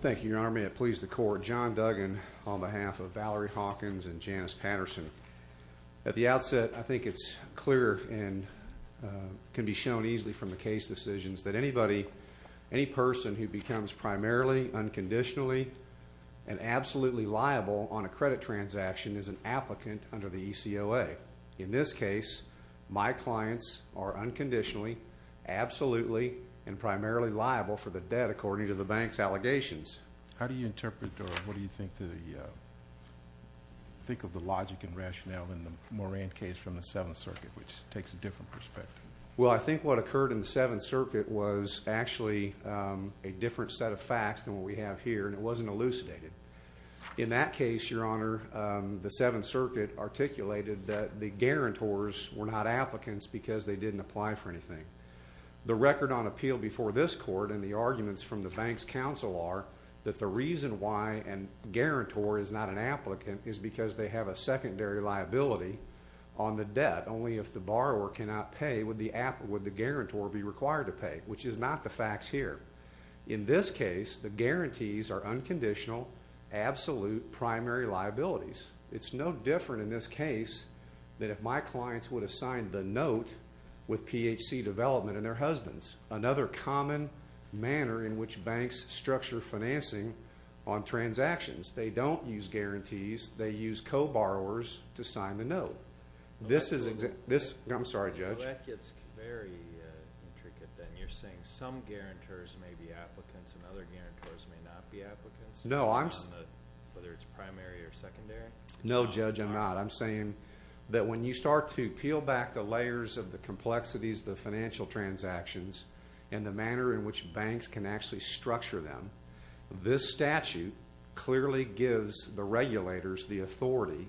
Thank you, Your Honor. May it please the Court, John Duggan on behalf of Valerie Hawkins and Janice Patterson. At the outset, I think it's clear and can be shown easily from the case decisions that anybody, any person who becomes primarily, unconditionally, and absolutely liable on a credit transaction is an applicant under the ECOA. But in this case, my clients are unconditionally, absolutely, and primarily liable for the debt according to the bank's allegations. How do you interpret or what do you think of the logic and rationale in the Moran case from the Seventh Circuit, which takes a different perspective? Well, I think what occurred in the Seventh Circuit was actually a different set of facts than what we have here, and it wasn't elucidated. In that case, Your Honor, the Seventh Circuit articulated that the guarantors were not applicants because they didn't apply for anything. The record on appeal before this Court and the arguments from the bank's counsel are that the reason why a guarantor is not an applicant is because they have a secondary liability on the debt. Only if the borrower cannot pay would the guarantor be required to pay, which is not the facts here. In this case, the guarantees are unconditional, absolute, primary liabilities. It's no different in this case than if my clients would have signed the note with PHC Development and their husbands, another common manner in which banks structure financing on transactions. They don't use guarantees. They use co-borrowers to sign the note. I'm sorry, Judge. That gets very intricate then. You're saying some guarantors may be applicants and other guarantors may not be applicants, whether it's primary or secondary? No, Judge, I'm not. I'm saying that when you start to peel back the layers of the complexities of the financial transactions and the manner in which banks can actually structure them, this statute clearly gives the regulators the authority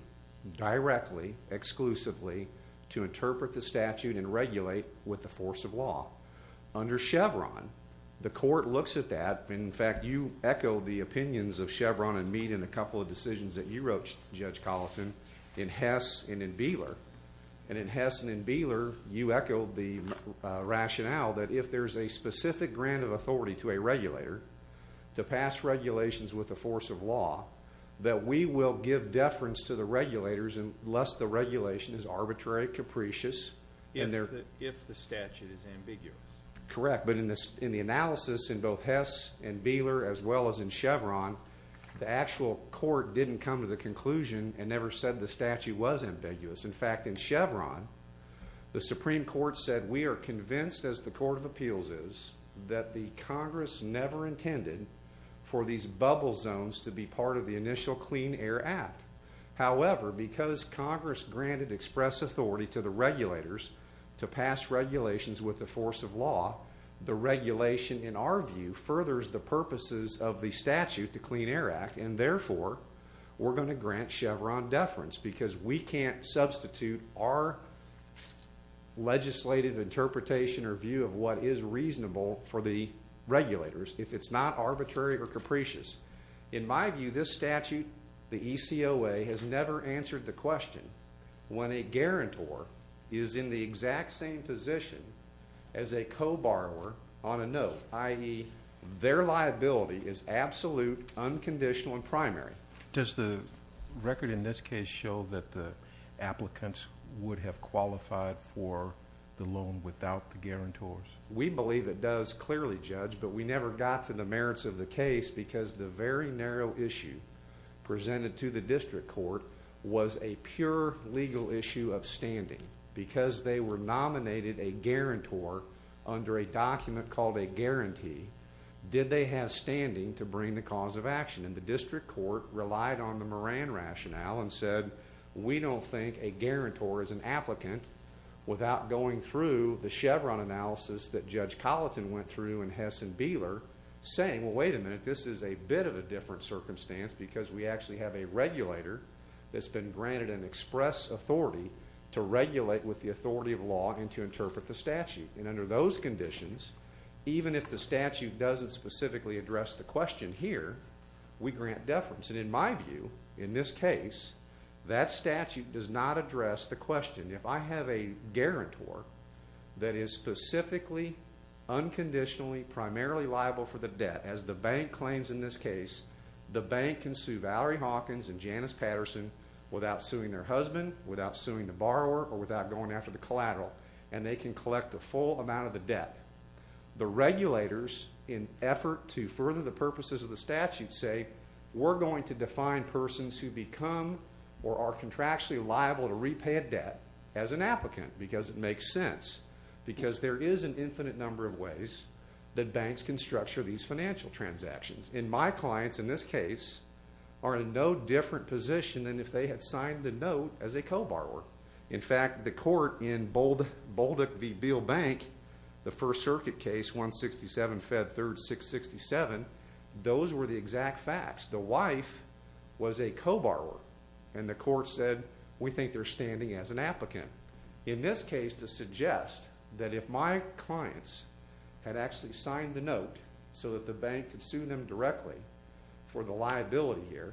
directly, exclusively, to interpret the statute and regulate with the force of law. Under Chevron, the court looks at that. In fact, you echoed the opinions of Chevron and me in a couple of decisions that you wrote, Judge Collison, in Hess and in Beeler. And in Hess and in Beeler, you echoed the rationale that if there's a specific grant of authority to a regulator, to pass regulations with the force of law, that we will give deference to the regulators unless the regulation is arbitrary, capricious. If the statute is ambiguous. Correct. But in the analysis in both Hess and Beeler, as well as in Chevron, the actual court didn't come to the conclusion and never said the statute was ambiguous. In fact, in Chevron, the Supreme Court said we are convinced, as the Court of Appeals is, that the Congress never intended for these bubble zones to be part of the initial Clean Air Act. However, because Congress granted express authority to the regulators to pass regulations with the force of law, the regulation, in our view, furthers the purposes of the statute, the Clean Air Act, and therefore we're going to grant Chevron deference because we can't substitute our legislative interpretation or view of what is reasonable for the regulators if it's not arbitrary or capricious. In my view, this statute, the ECOA, has never answered the question when a guarantor is in the exact same position as a co-borrower on a note, i.e., their liability is absolute, unconditional, and primary. Does the record in this case show that the applicants would have qualified for the loan without the guarantors? We believe it does clearly, Judge, but we never got to the merits of the case because the very narrow issue presented to the district court was a pure legal issue of standing because they were nominated a guarantor under a document called a guarantee. Did they have standing to bring the cause of action? And the district court relied on the Moran rationale and said, we don't think a guarantor is an applicant without going through the Chevron analysis that Judge Colleton went through and Hess and Beeler saying, well, wait a minute, this is a bit of a different circumstance because we actually have a regulator that's been granted an express authority to regulate with the authority of law and to interpret the statute. And under those conditions, even if the statute doesn't specifically address the question here, we grant deference. And in my view, in this case, that statute does not address the question. If I have a guarantor that is specifically, unconditionally, primarily liable for the debt, as the bank claims in this case, the bank can sue Valerie Hawkins and Janice Patterson without suing their husband, without suing the borrower, or without going after the collateral, and they can collect the full amount of the debt. The regulators, in effort to further the purposes of the statute, say, we're going to define persons who become or are contractually liable to repay a debt as an applicant because it makes sense because there is an infinite number of ways that banks can structure these financial transactions. And my clients, in this case, are in no different position than if they had signed the note as a co-borrower. In fact, the court in Bolduc v. Beal Bank, the First Circuit case, 167 Fed 3rd 667, those were the exact facts. The wife was a co-borrower, and the court said, we think they're standing as an applicant. In this case, to suggest that if my clients had actually signed the note so that the bank could sue them directly for the liability here,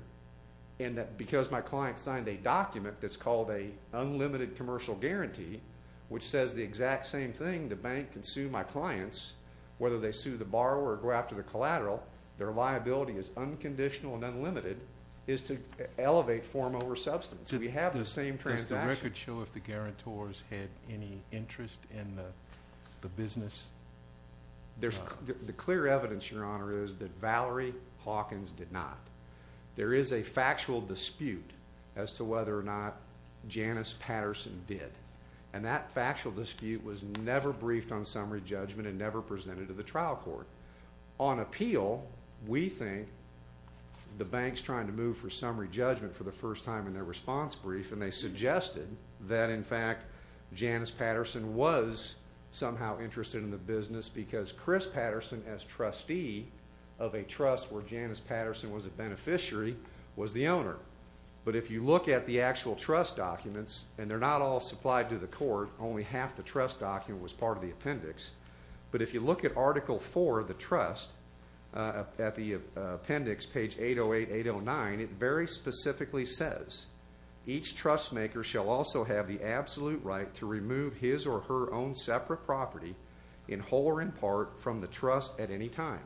and that because my client signed a document that's called an unlimited commercial guarantee, which says the exact same thing, the bank can sue my clients, whether they sue the borrower or go after the collateral, their liability is unconditional and unlimited, is to elevate form over substance. We have the same transaction. Did the records show if the guarantors had any interest in the business? The clear evidence, Your Honor, is that Valerie Hawkins did not. There is a factual dispute as to whether or not Janice Patterson did, and that factual dispute was never briefed on summary judgment and never presented to the trial court. On appeal, we think the bank's trying to move for summary judgment for the first time in their response brief, and they suggested that, in fact, Janice Patterson was somehow interested in the business because Chris Patterson, as trustee of a trust where Janice Patterson was a beneficiary, was the owner. But if you look at the actual trust documents, and they're not all supplied to the court. Only half the trust document was part of the appendix. But if you look at Article IV of the trust, at the appendix, page 808, 809, it very specifically says, each trustmaker shall also have the absolute right to remove his or her own separate property, in whole or in part, from the trust at any time.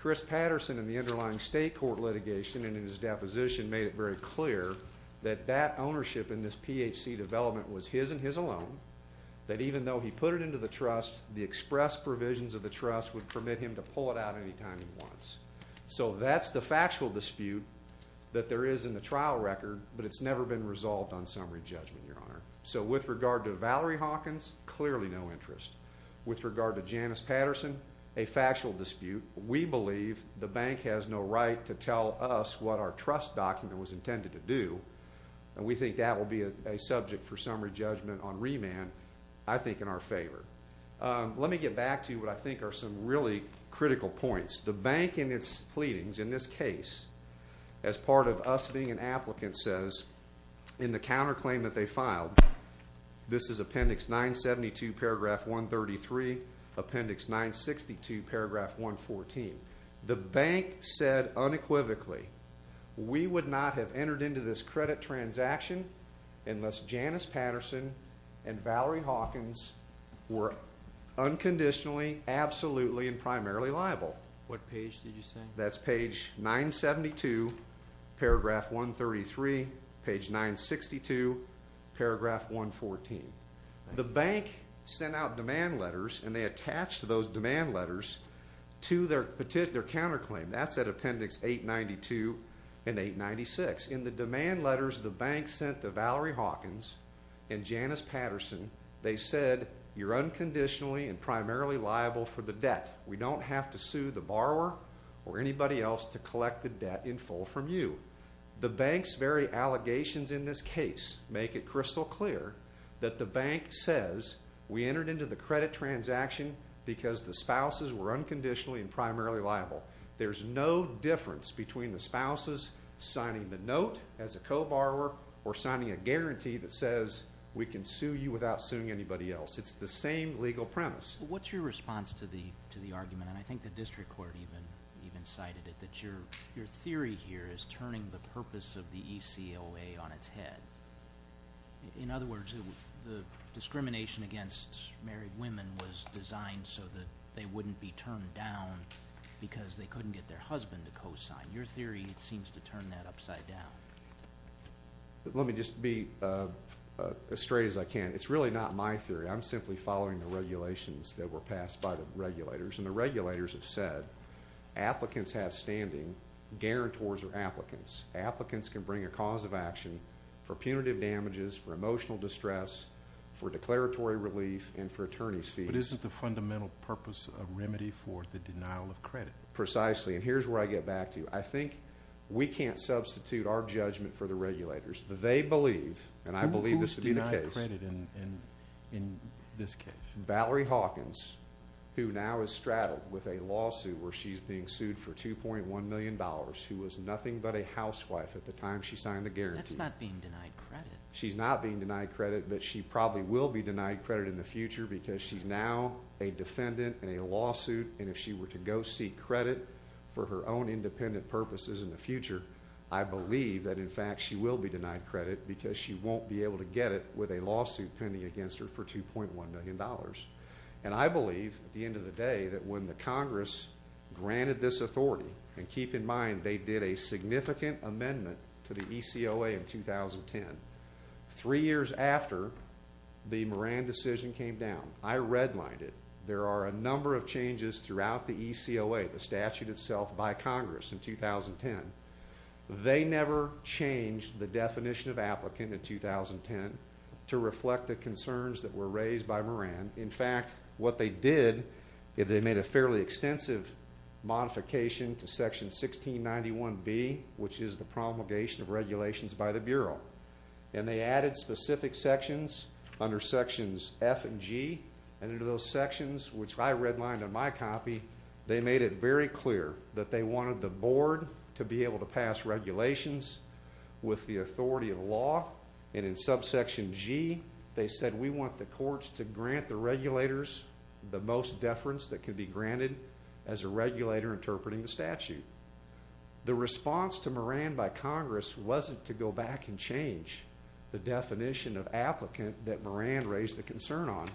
Chris Patterson, in the underlying state court litigation and in his deposition, made it very clear that that ownership in this PHC development was his and his alone, that even though he put it into the trust, the express provisions of the trust would permit him to pull it out any time he wants. So that's the factual dispute that there is in the trial record, but it's never been resolved on summary judgment, Your Honor. So with regard to Valerie Hawkins, clearly no interest. With regard to Janice Patterson, a factual dispute. We believe the bank has no right to tell us what our trust document was intended to do, and we think that will be a subject for summary judgment on remand, I think, in our favor. Let me get back to what I think are some really critical points. The bank, in its pleadings, in this case, as part of us being an applicant, says, in the counterclaim that they filed, this is Appendix 972, Paragraph 133, Appendix 962, Paragraph 114, the bank said unequivocally, we would not have entered into this credit transaction unless Janice Patterson and Valerie Hawkins were unconditionally, absolutely, and primarily liable. What page did you say? That's page 972, Paragraph 133, page 962, Paragraph 114. The bank sent out demand letters, and they attached those demand letters to their counterclaim. That's at Appendix 892 and 896. In the demand letters the bank sent to Valerie Hawkins and Janice Patterson, they said you're unconditionally and primarily liable for the debt. We don't have to sue the borrower or anybody else to collect the debt in full from you. The bank's very allegations in this case make it crystal clear that the bank says we entered into the credit transaction because the spouses were unconditionally and primarily liable. There's no difference between the spouses signing the note as a co-borrower or signing a guarantee that says we can sue you without suing anybody else. It's the same legal premise. What's your response to the argument, and I think the district court even cited it, that your theory here is turning the purpose of the ECOA on its head? In other words, the discrimination against married women was designed so that they wouldn't be turned down because they couldn't get their husband to co-sign. Your theory seems to turn that upside down. Let me just be as straight as I can. It's really not my theory. I'm simply following the regulations that were passed by the regulators, and the regulators have said applicants have standing, guarantors are applicants. Applicants can bring a cause of action for punitive damages, for emotional distress, for declaratory relief, and for attorney's fees. But isn't the fundamental purpose a remedy for the denial of credit? Precisely, and here's where I get back to you. I think we can't substitute our judgment for the regulators. They believe, and I believe this to be the case. Who is denied credit in this case? Valerie Hawkins, who now is straddled with a lawsuit where she's being sued for $2.1 million, who was nothing but a housewife at the time she signed the guarantee. That's not being denied credit. She's not being denied credit, but she probably will be denied credit in the future because she's now a defendant in a lawsuit, and if she were to go seek credit for her own independent purposes in the future, I believe that, in fact, she will be denied credit because she won't be able to get it with a lawsuit pending against her for $2.1 million. And I believe, at the end of the day, that when the Congress granted this authority, and keep in mind they did a significant amendment to the ECOA in 2010, three years after the Moran decision came down. I redlined it. There are a number of changes throughout the ECOA, the statute itself, by Congress in 2010. They never changed the definition of applicant in 2010 to reflect the concerns that were raised by Moran. In fact, what they did is they made a fairly extensive modification to Section 1691B, which is the promulgation of regulations by the Bureau, and they added specific sections under Sections F and G, and under those sections, which I redlined in my copy, they made it very clear that they wanted the Board to be able to pass regulations with the authority of law, and in Subsection G, they said we want the courts to grant the regulators the most deference that can be granted as a regulator interpreting the statute. The response to Moran by Congress wasn't to go back and change the definition of applicant that Moran raised a concern on.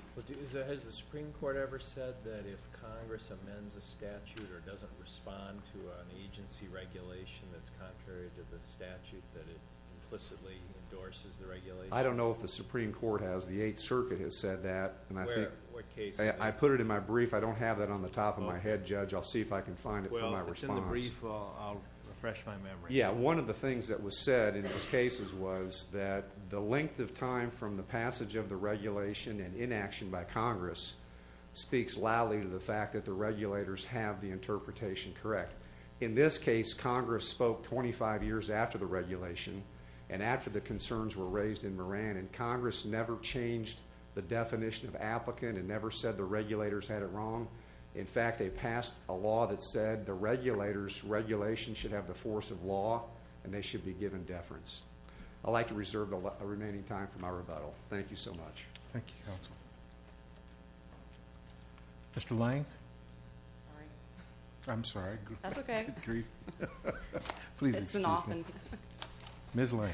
Has the Supreme Court ever said that if Congress amends a statute or doesn't respond to an agency regulation that's contrary to the statute, that it implicitly endorses the regulation? I don't know if the Supreme Court has. The Eighth Circuit has said that. I put it in my brief. I don't have that on the top of my head, Judge. I'll see if I can find it for my response. Well, if it's in the brief, I'll refresh my memory. Yeah, one of the things that was said in those cases was that the length of time from the passage of the regulation and inaction by Congress speaks loudly to the fact that the regulators have the interpretation correct. In this case, Congress spoke 25 years after the regulation and after the concerns were raised in Moran, and Congress never changed the definition of applicant and never said the regulators had it wrong. In fact, they passed a law that said the regulators' regulation should have the force of law and they should be given deference. I'd like to reserve the remaining time for my rebuttal. Thank you so much. Thank you, Counsel. Mr. Lang? Sorry. I'm sorry. That's okay. Please excuse me. It's an often. Ms. Lang.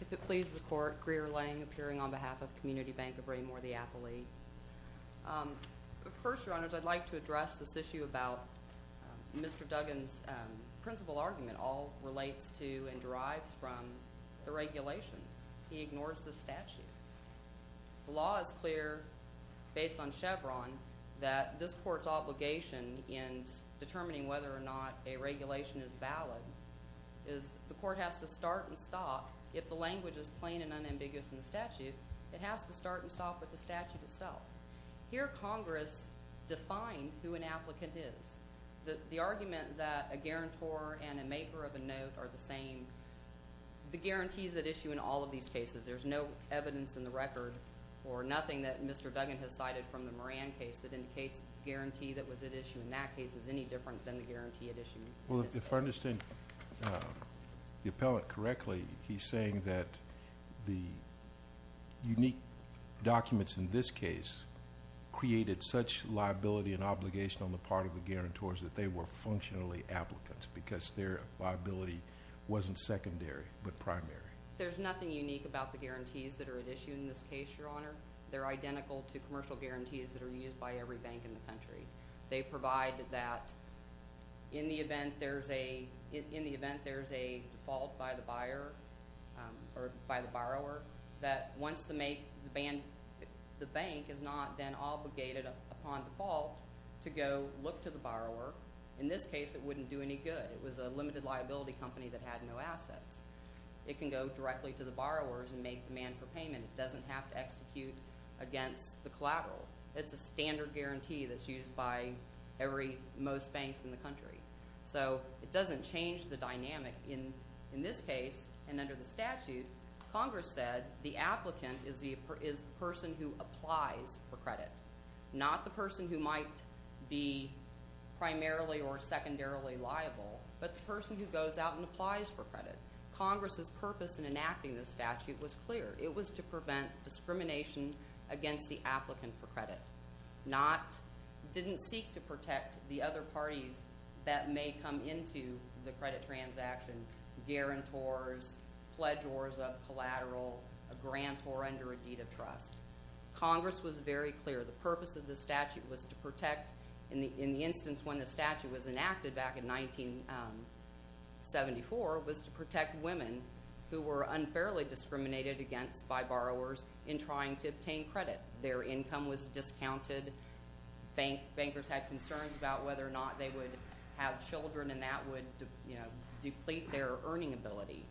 If it pleases the Court, Greer Lang, appearing on behalf of Community Bank of Raymoor, the appellee. First, Your Honors, I'd like to address this issue about Mr. Duggan's principal argument all relates to and derives from the regulations. He ignores the statute. The law is clear, based on Chevron, that this court's obligation in determining whether or not a regulation is valid is the court has to start and stop if the language is plain and unambiguous in the statute. It has to start and stop with the statute itself. Here Congress defined who an applicant is. The argument that a guarantor and a maker of a note are the same, the guarantees at issue in all of these cases, there's no evidence in the record or nothing that Mr. Duggan has cited from the Moran case that indicates the guarantee that was at issue in that case is any different than the guarantee at issue in this case. Well, if I understand the appellant correctly, he's saying that the unique documents in this case created such liability and obligation on the part of the guarantors that they were functionally applicants because their liability wasn't secondary but primary. There's nothing unique about the guarantees that are at issue in this case, Your Honor. They're identical to commercial guarantees that are used by every bank in the country. They provide that in the event there's a default by the buyer or by the borrower, that once the bank is not then obligated upon default to go look to the borrower, in this case it wouldn't do any good. It was a limited liability company that had no assets. It can go directly to the borrowers and make demand for payment. It doesn't have to execute against the collateral. It's a standard guarantee that's used by most banks in the country. So it doesn't change the dynamic. In this case and under the statute, Congress said the applicant is the person who applies for credit, not the person who might be primarily or secondarily liable, but the person who goes out and applies for credit. Congress's purpose in enacting this statute was clear. It was to prevent discrimination against the applicant for credit. It didn't seek to protect the other parties that may come into the credit transaction, guarantors, pledgeors of collateral, a grantor under a deed of trust. Congress was very clear. The purpose of the statute was to protect, in the instance when the statute was enacted back in 1974, was to protect women who were unfairly discriminated against by borrowers in trying to obtain credit. Their income was discounted. Bankers had concerns about whether or not they would have children, and that would, you know, deplete their earning ability.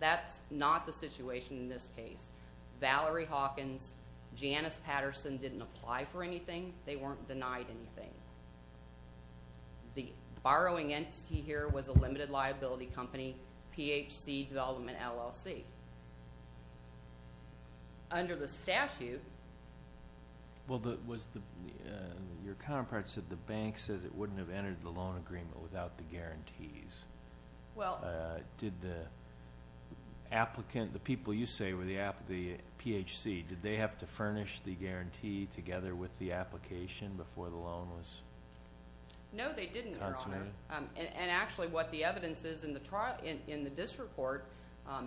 That's not the situation in this case. Valerie Hawkins, Janice Patterson didn't apply for anything. They weren't denied anything. The borrowing entity here was a limited liability company, PHC Development, LLC. Under the statute. Well, your counterpart said the bank says it wouldn't have entered the loan agreement without the guarantees. Well. Did the applicant, the people you say were the PHC, did they have to furnish the guarantee together with the application before the loan was consummated? No, they didn't, Your Honor. And actually what the evidence is in the district court,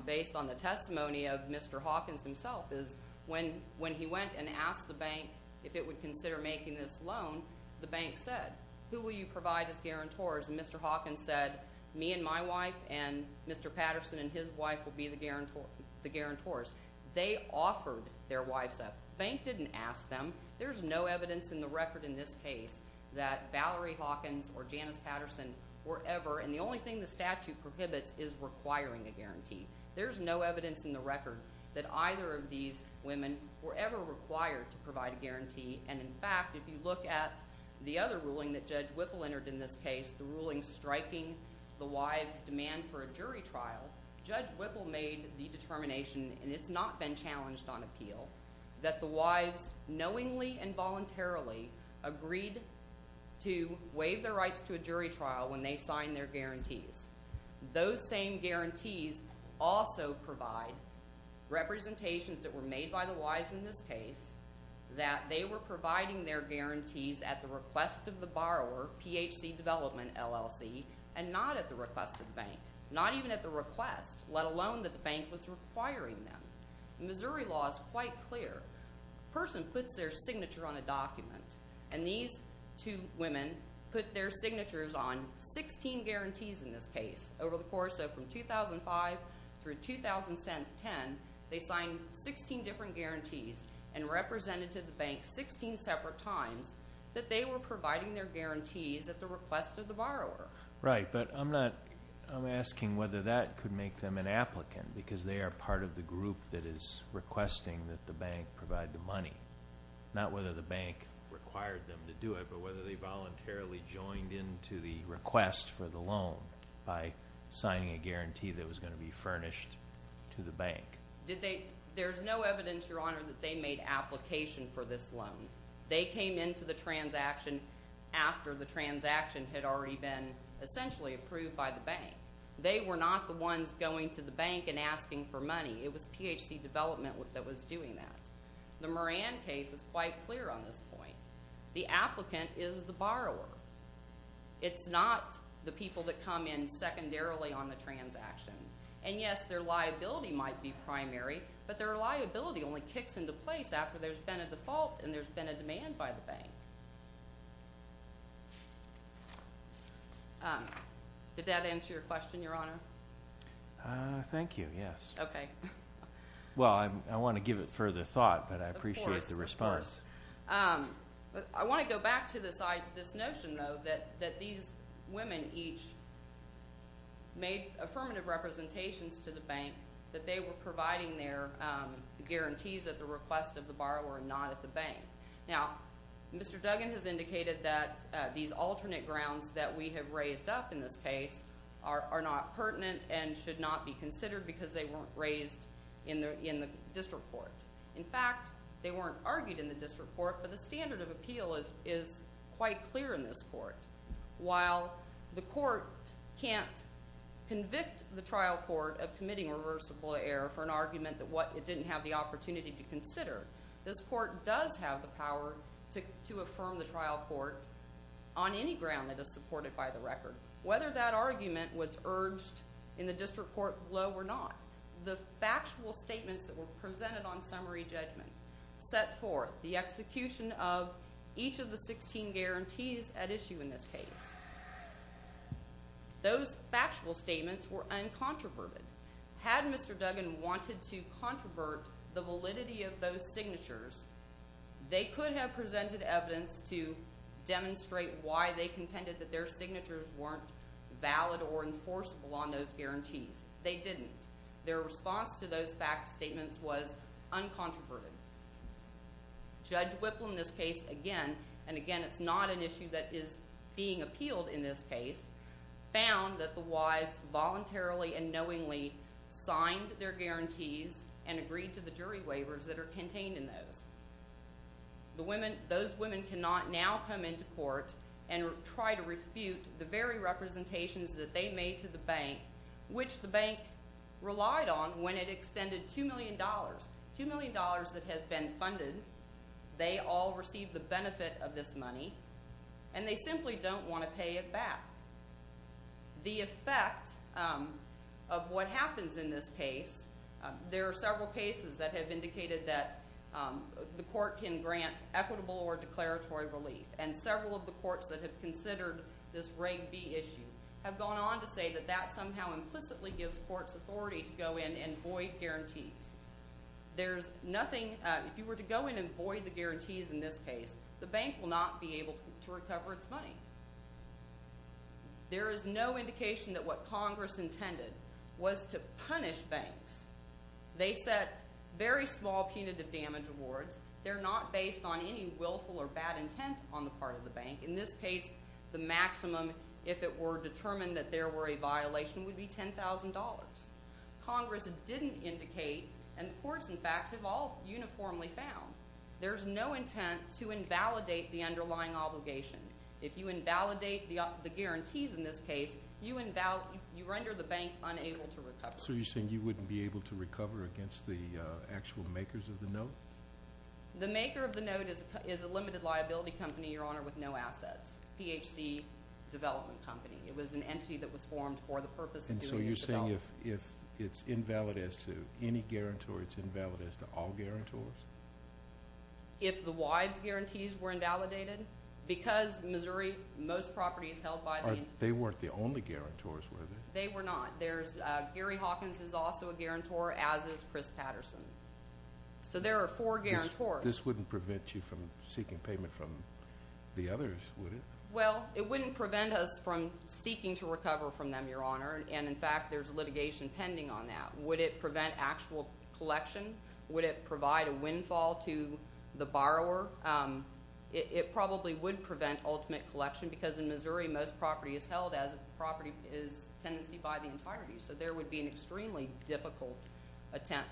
based on the testimony of Mr. Hawkins himself, is when he went and asked the bank if it would consider making this loan, the bank said, who will you provide as guarantors? And Mr. Hawkins said, me and my wife and Mr. Patterson and his wife will be the guarantors. They offered their wives up. The bank didn't ask them. There's no evidence in the record in this case that Valerie Hawkins or Janice Patterson were ever, and the only thing the statute prohibits is requiring a guarantee. There's no evidence in the record that either of these women were ever required to provide a guarantee. And, in fact, if you look at the other ruling that Judge Whipple entered in this case, the ruling striking the wives' demand for a jury trial, Judge Whipple made the determination, and it's not been challenged on appeal, that the wives knowingly and voluntarily agreed to waive their rights to a jury trial when they signed their guarantees. Those same guarantees also provide representations that were made by the wives in this case that they were providing their guarantees at the request of the borrower, PHC Development, LLC, and not at the request of the bank. Not even at the request, let alone that the bank was requiring them. The Missouri law is quite clear. A person puts their signature on a document, and these two women put their signatures on 16 guarantees in this case. Over the course of 2005 through 2010, they signed 16 different guarantees and represented to the bank 16 separate times that they were providing their guarantees at the request of the borrower. Right, but I'm asking whether that could make them an applicant, because they are part of the group that is requesting that the bank provide the money, not whether the bank required them to do it, but whether they voluntarily joined in to the request for the loan by signing a guarantee that was going to be furnished to the bank. There's no evidence, Your Honor, that they made application for this loan. They came into the transaction after the transaction had already been essentially approved by the bank. They were not the ones going to the bank and asking for money. It was PHC Development that was doing that. The Moran case is quite clear on this point. The applicant is the borrower. It's not the people that come in secondarily on the transaction. And, yes, their liability might be primary, but their liability only kicks into place after there's been a default and there's been a demand by the bank. Did that answer your question, Your Honor? Thank you, yes. Okay. Well, I want to give it further thought, but I appreciate the response. Of course, of course. I want to go back to this notion, though, that these women each made affirmative representations to the bank that they were providing their guarantees at the request of the borrower and not at the bank. Now, Mr. Duggan has indicated that these alternate grounds that we have raised up in this case are not pertinent and should not be considered because they weren't raised in the district court. In fact, they weren't argued in the district court, but the standard of appeal is quite clear in this court. While the court can't convict the trial court of committing reversible error for an argument that it didn't have the opportunity to consider, this court does have the power to affirm the trial court on any ground that is supported by the record. Whether that argument was urged in the district court below or not, the factual statements that were presented on summary judgment set forth the execution of each of the 16 guarantees at issue in this case. Those factual statements were uncontroverted. Had Mr. Duggan wanted to controvert the validity of those signatures, they could have presented evidence to demonstrate why they contended that their signatures weren't valid or enforceable on those guarantees. They didn't. Their response to those factual statements was uncontroverted. Judge Whipland, in this case again, and again it's not an issue that is being appealed in this case, found that the wives voluntarily and knowingly signed their guarantees and agreed to the jury waivers that are contained in those. Those women cannot now come into court and try to refute the very representations that they made to the bank, which the bank relied on when it extended $2 million, $2 million that has been funded. They all received the benefit of this money, and they simply don't want to pay it back. The effect of what happens in this case, there are several cases that have indicated that the court can grant equitable or declaratory relief, and several of the courts that have considered this Reg B issue have gone on to say that that somehow implicitly gives courts authority to go in and void guarantees. There's nothing – if you were to go in and void the guarantees in this case, the bank will not be able to recover its money. There is no indication that what Congress intended was to punish banks. They set very small punitive damage rewards. They're not based on any willful or bad intent on the part of the bank. In this case, the maximum, if it were determined that there were a violation, would be $10,000. Congress didn't indicate, and the courts, in fact, have all uniformly found, there's no intent to invalidate the underlying obligation. If you invalidate the guarantees in this case, you render the bank unable to recover. So you're saying you wouldn't be able to recover against the actual makers of the note? The maker of the note is a limited liability company, Your Honor, with no assets, PHC Development Company. It was an entity that was formed for the purpose of doing this development. And so you're saying if it's invalid as to any guarantor, it's invalid as to all guarantors? If the wives' guarantees were invalidated, because Missouri, most properties held by the- They weren't the only guarantors, were they? They were not. Gary Hawkins is also a guarantor, as is Chris Patterson. So there are four guarantors. This wouldn't prevent you from seeking payment from the others, would it? Well, it wouldn't prevent us from seeking to recover from them, Your Honor. And, in fact, there's litigation pending on that. Would it prevent actual collection? Would it provide a windfall to the borrower? It probably would prevent ultimate collection because, in Missouri, most property is held as a property is tenancy by the entirety. So there would be an extremely difficult attempt,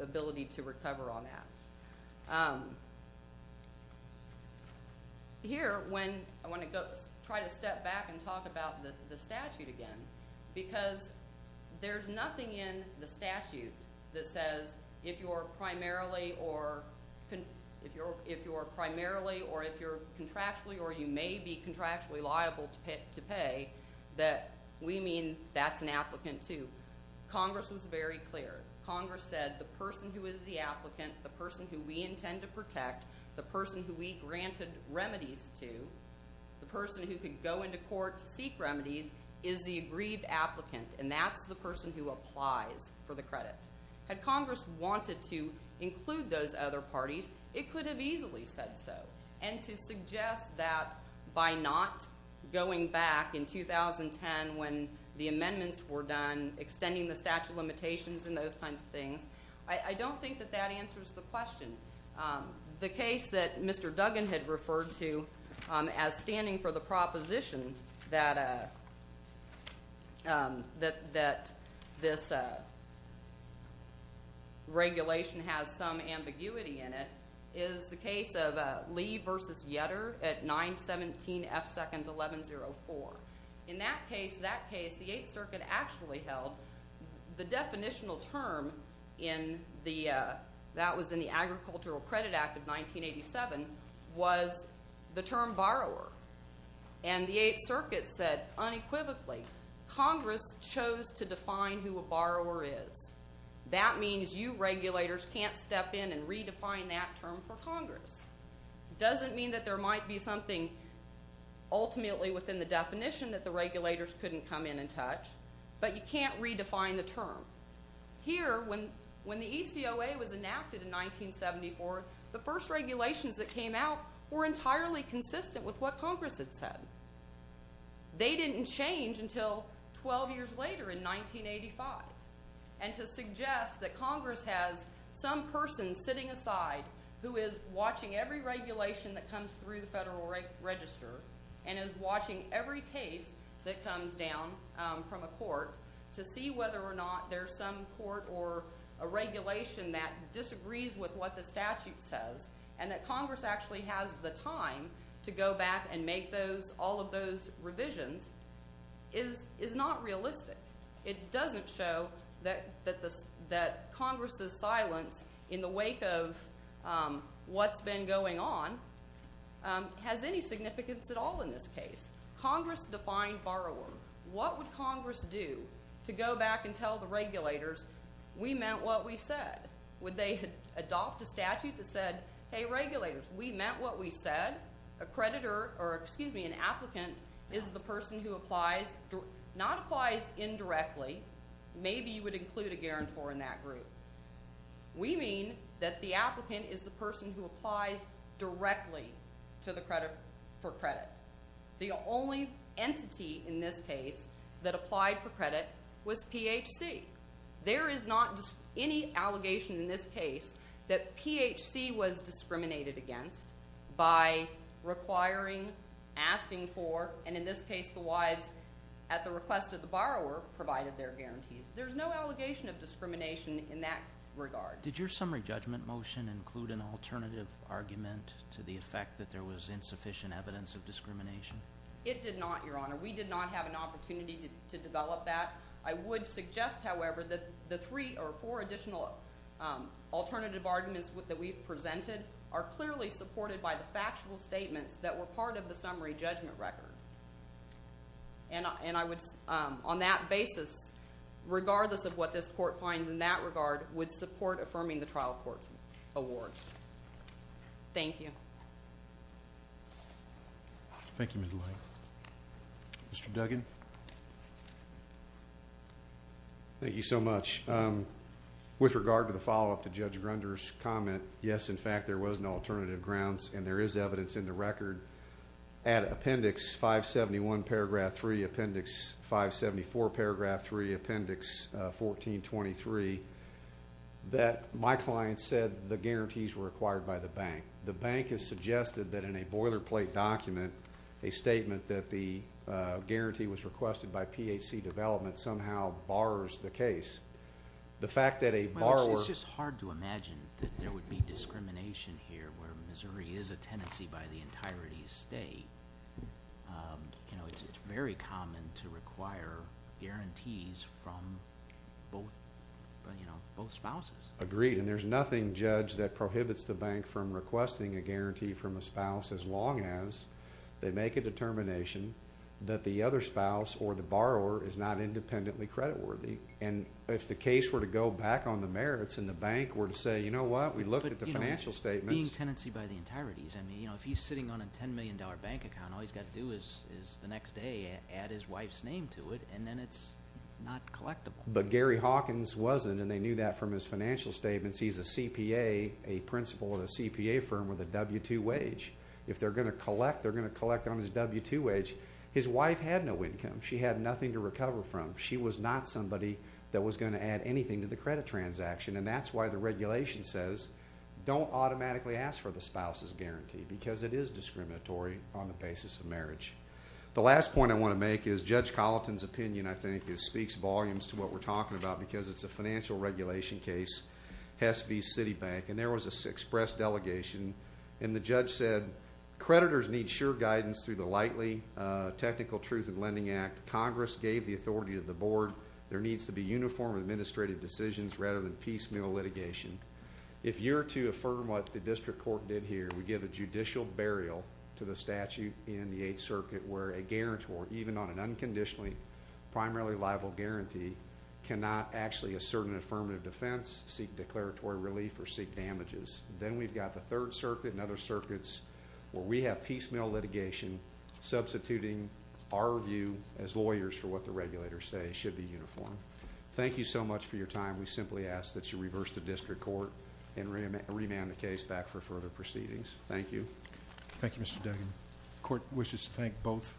ability to recover on that. Here, when I want to try to step back and talk about the statute again, because there's nothing in the statute that says if you're primarily or if you're contractually or you may be contractually liable to pay, that we mean that's an applicant, too. Congress was very clear. Congress said the person who is the applicant, the person who we intend to protect, the person who we granted remedies to, the person who could go into court to seek remedies is the aggrieved applicant, and that's the person who applies for the credit. Had Congress wanted to include those other parties, it could have easily said so. And to suggest that by not going back in 2010 when the amendments were done, extending the statute of limitations and those kinds of things, I don't think that that answers the question. The case that Mr. Duggan had referred to as standing for the proposition that this regulation has some ambiguity in it is the case of Lee v. Yetter at 917F2-1104. In that case, the Eighth Circuit actually held the definitional term that was in the Agricultural Credit Act of 1987 was the term borrower. And the Eighth Circuit said unequivocally, Congress chose to define who a borrower is. That means you regulators can't step in and redefine that term for Congress. It doesn't mean that there might be something ultimately within the definition that the regulators couldn't come in and touch, but you can't redefine the term. Here, when the ECOA was enacted in 1974, the first regulations that came out were entirely consistent with what Congress had said. They didn't change until 12 years later in 1985. And to suggest that Congress has some person sitting aside who is watching every regulation that comes through the Federal Register and is watching every case that comes down from a court to see whether or not there's some court or a regulation that disagrees with what the statute says and that Congress actually has the time to go back and make all of those revisions is not realistic. It doesn't show that Congress's silence in the wake of what's been going on has any significance at all in this case. Congress defined borrower. What would Congress do to go back and tell the regulators, we meant what we said? Would they adopt a statute that said, hey, regulators, we meant what we said. We meant that a creditor or, excuse me, an applicant is the person who applies, not applies indirectly. Maybe you would include a guarantor in that group. We mean that the applicant is the person who applies directly for credit. The only entity in this case that applied for credit was PHC. There is not any allegation in this case that PHC was discriminated against by requiring, asking for, and in this case the wives at the request of the borrower provided their guarantees. There's no allegation of discrimination in that regard. Did your summary judgment motion include an alternative argument to the effect that there was insufficient evidence of discrimination? It did not, Your Honor. We did not have an opportunity to develop that. I would suggest, however, that the three or four additional alternative arguments that we've presented are clearly supported by the factual statements that were part of the summary judgment record. And I would, on that basis, regardless of what this court finds in that regard, would support affirming the trial court's award. Thank you. Thank you, Ms. Lane. Mr. Duggan. Thank you so much. With regard to the follow-up to Judge Grunder's comment, yes, in fact, there was an alternative grounds, and there is evidence in the record at Appendix 571, Paragraph 3, Appendix 574, Paragraph 3, Appendix 1423, that my client said the guarantees were acquired by the bank. The bank has suggested that in a boilerplate document, a statement that the guarantee was requested by PHC Development somehow bars the case. The fact that a borrower- It's just hard to imagine that there would be discrimination here where Missouri is a tenancy by the entirety of the state. It's very common to require guarantees from both spouses. Agreed. And there's nothing, Judge, that prohibits the bank from requesting a guarantee from a spouse as long as they make a determination that the other spouse or the borrower is not independently creditworthy. And if the case were to go back on the merits and the bank were to say, you know what, we looked at the financial statements- Being tenancy by the entirety. I mean, you know, if he's sitting on a $10 million bank account, all he's got to do is the next day add his wife's name to it, and then it's not collectible. But Gary Hawkins wasn't, and they knew that from his financial statements. He's a CPA, a principal at a CPA firm with a W-2 wage. If they're going to collect, they're going to collect on his W-2 wage. His wife had no income. She had nothing to recover from. She was not somebody that was going to add anything to the credit transaction. And that's why the regulation says don't automatically ask for the spouse's guarantee because it is discriminatory on the basis of marriage. The last point I want to make is Judge Colleton's opinion, I think, speaks volumes to what we're talking about because it's a financial regulation case. Hess v. Citibank. And there was an express delegation, and the judge said creditors need sure guidance through the likely technical truth in lending act. Congress gave the authority to the board. There needs to be uniform administrative decisions rather than piecemeal litigation. If you're to affirm what the district court did here, we give a judicial burial to the statute in the Eighth Circuit where a guarantor, even on an unconditionally primarily liable guarantee, cannot actually assert an affirmative defense, seek declaratory relief, or seek damages. Then we've got the Third Circuit and other circuits where we have piecemeal litigation substituting our view as lawyers for what the regulators say should be uniform. Thank you so much for your time. We simply ask that you reverse the district court and remand the case back for further proceedings. Thank you. Thank you, Mr. Duggan. The court wishes to thank both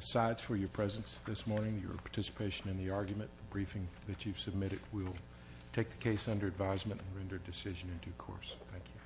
sides for your presence this morning, your participation in the argument. The briefing that you've submitted will take the case under advisement and render a decision in due course. Thank you.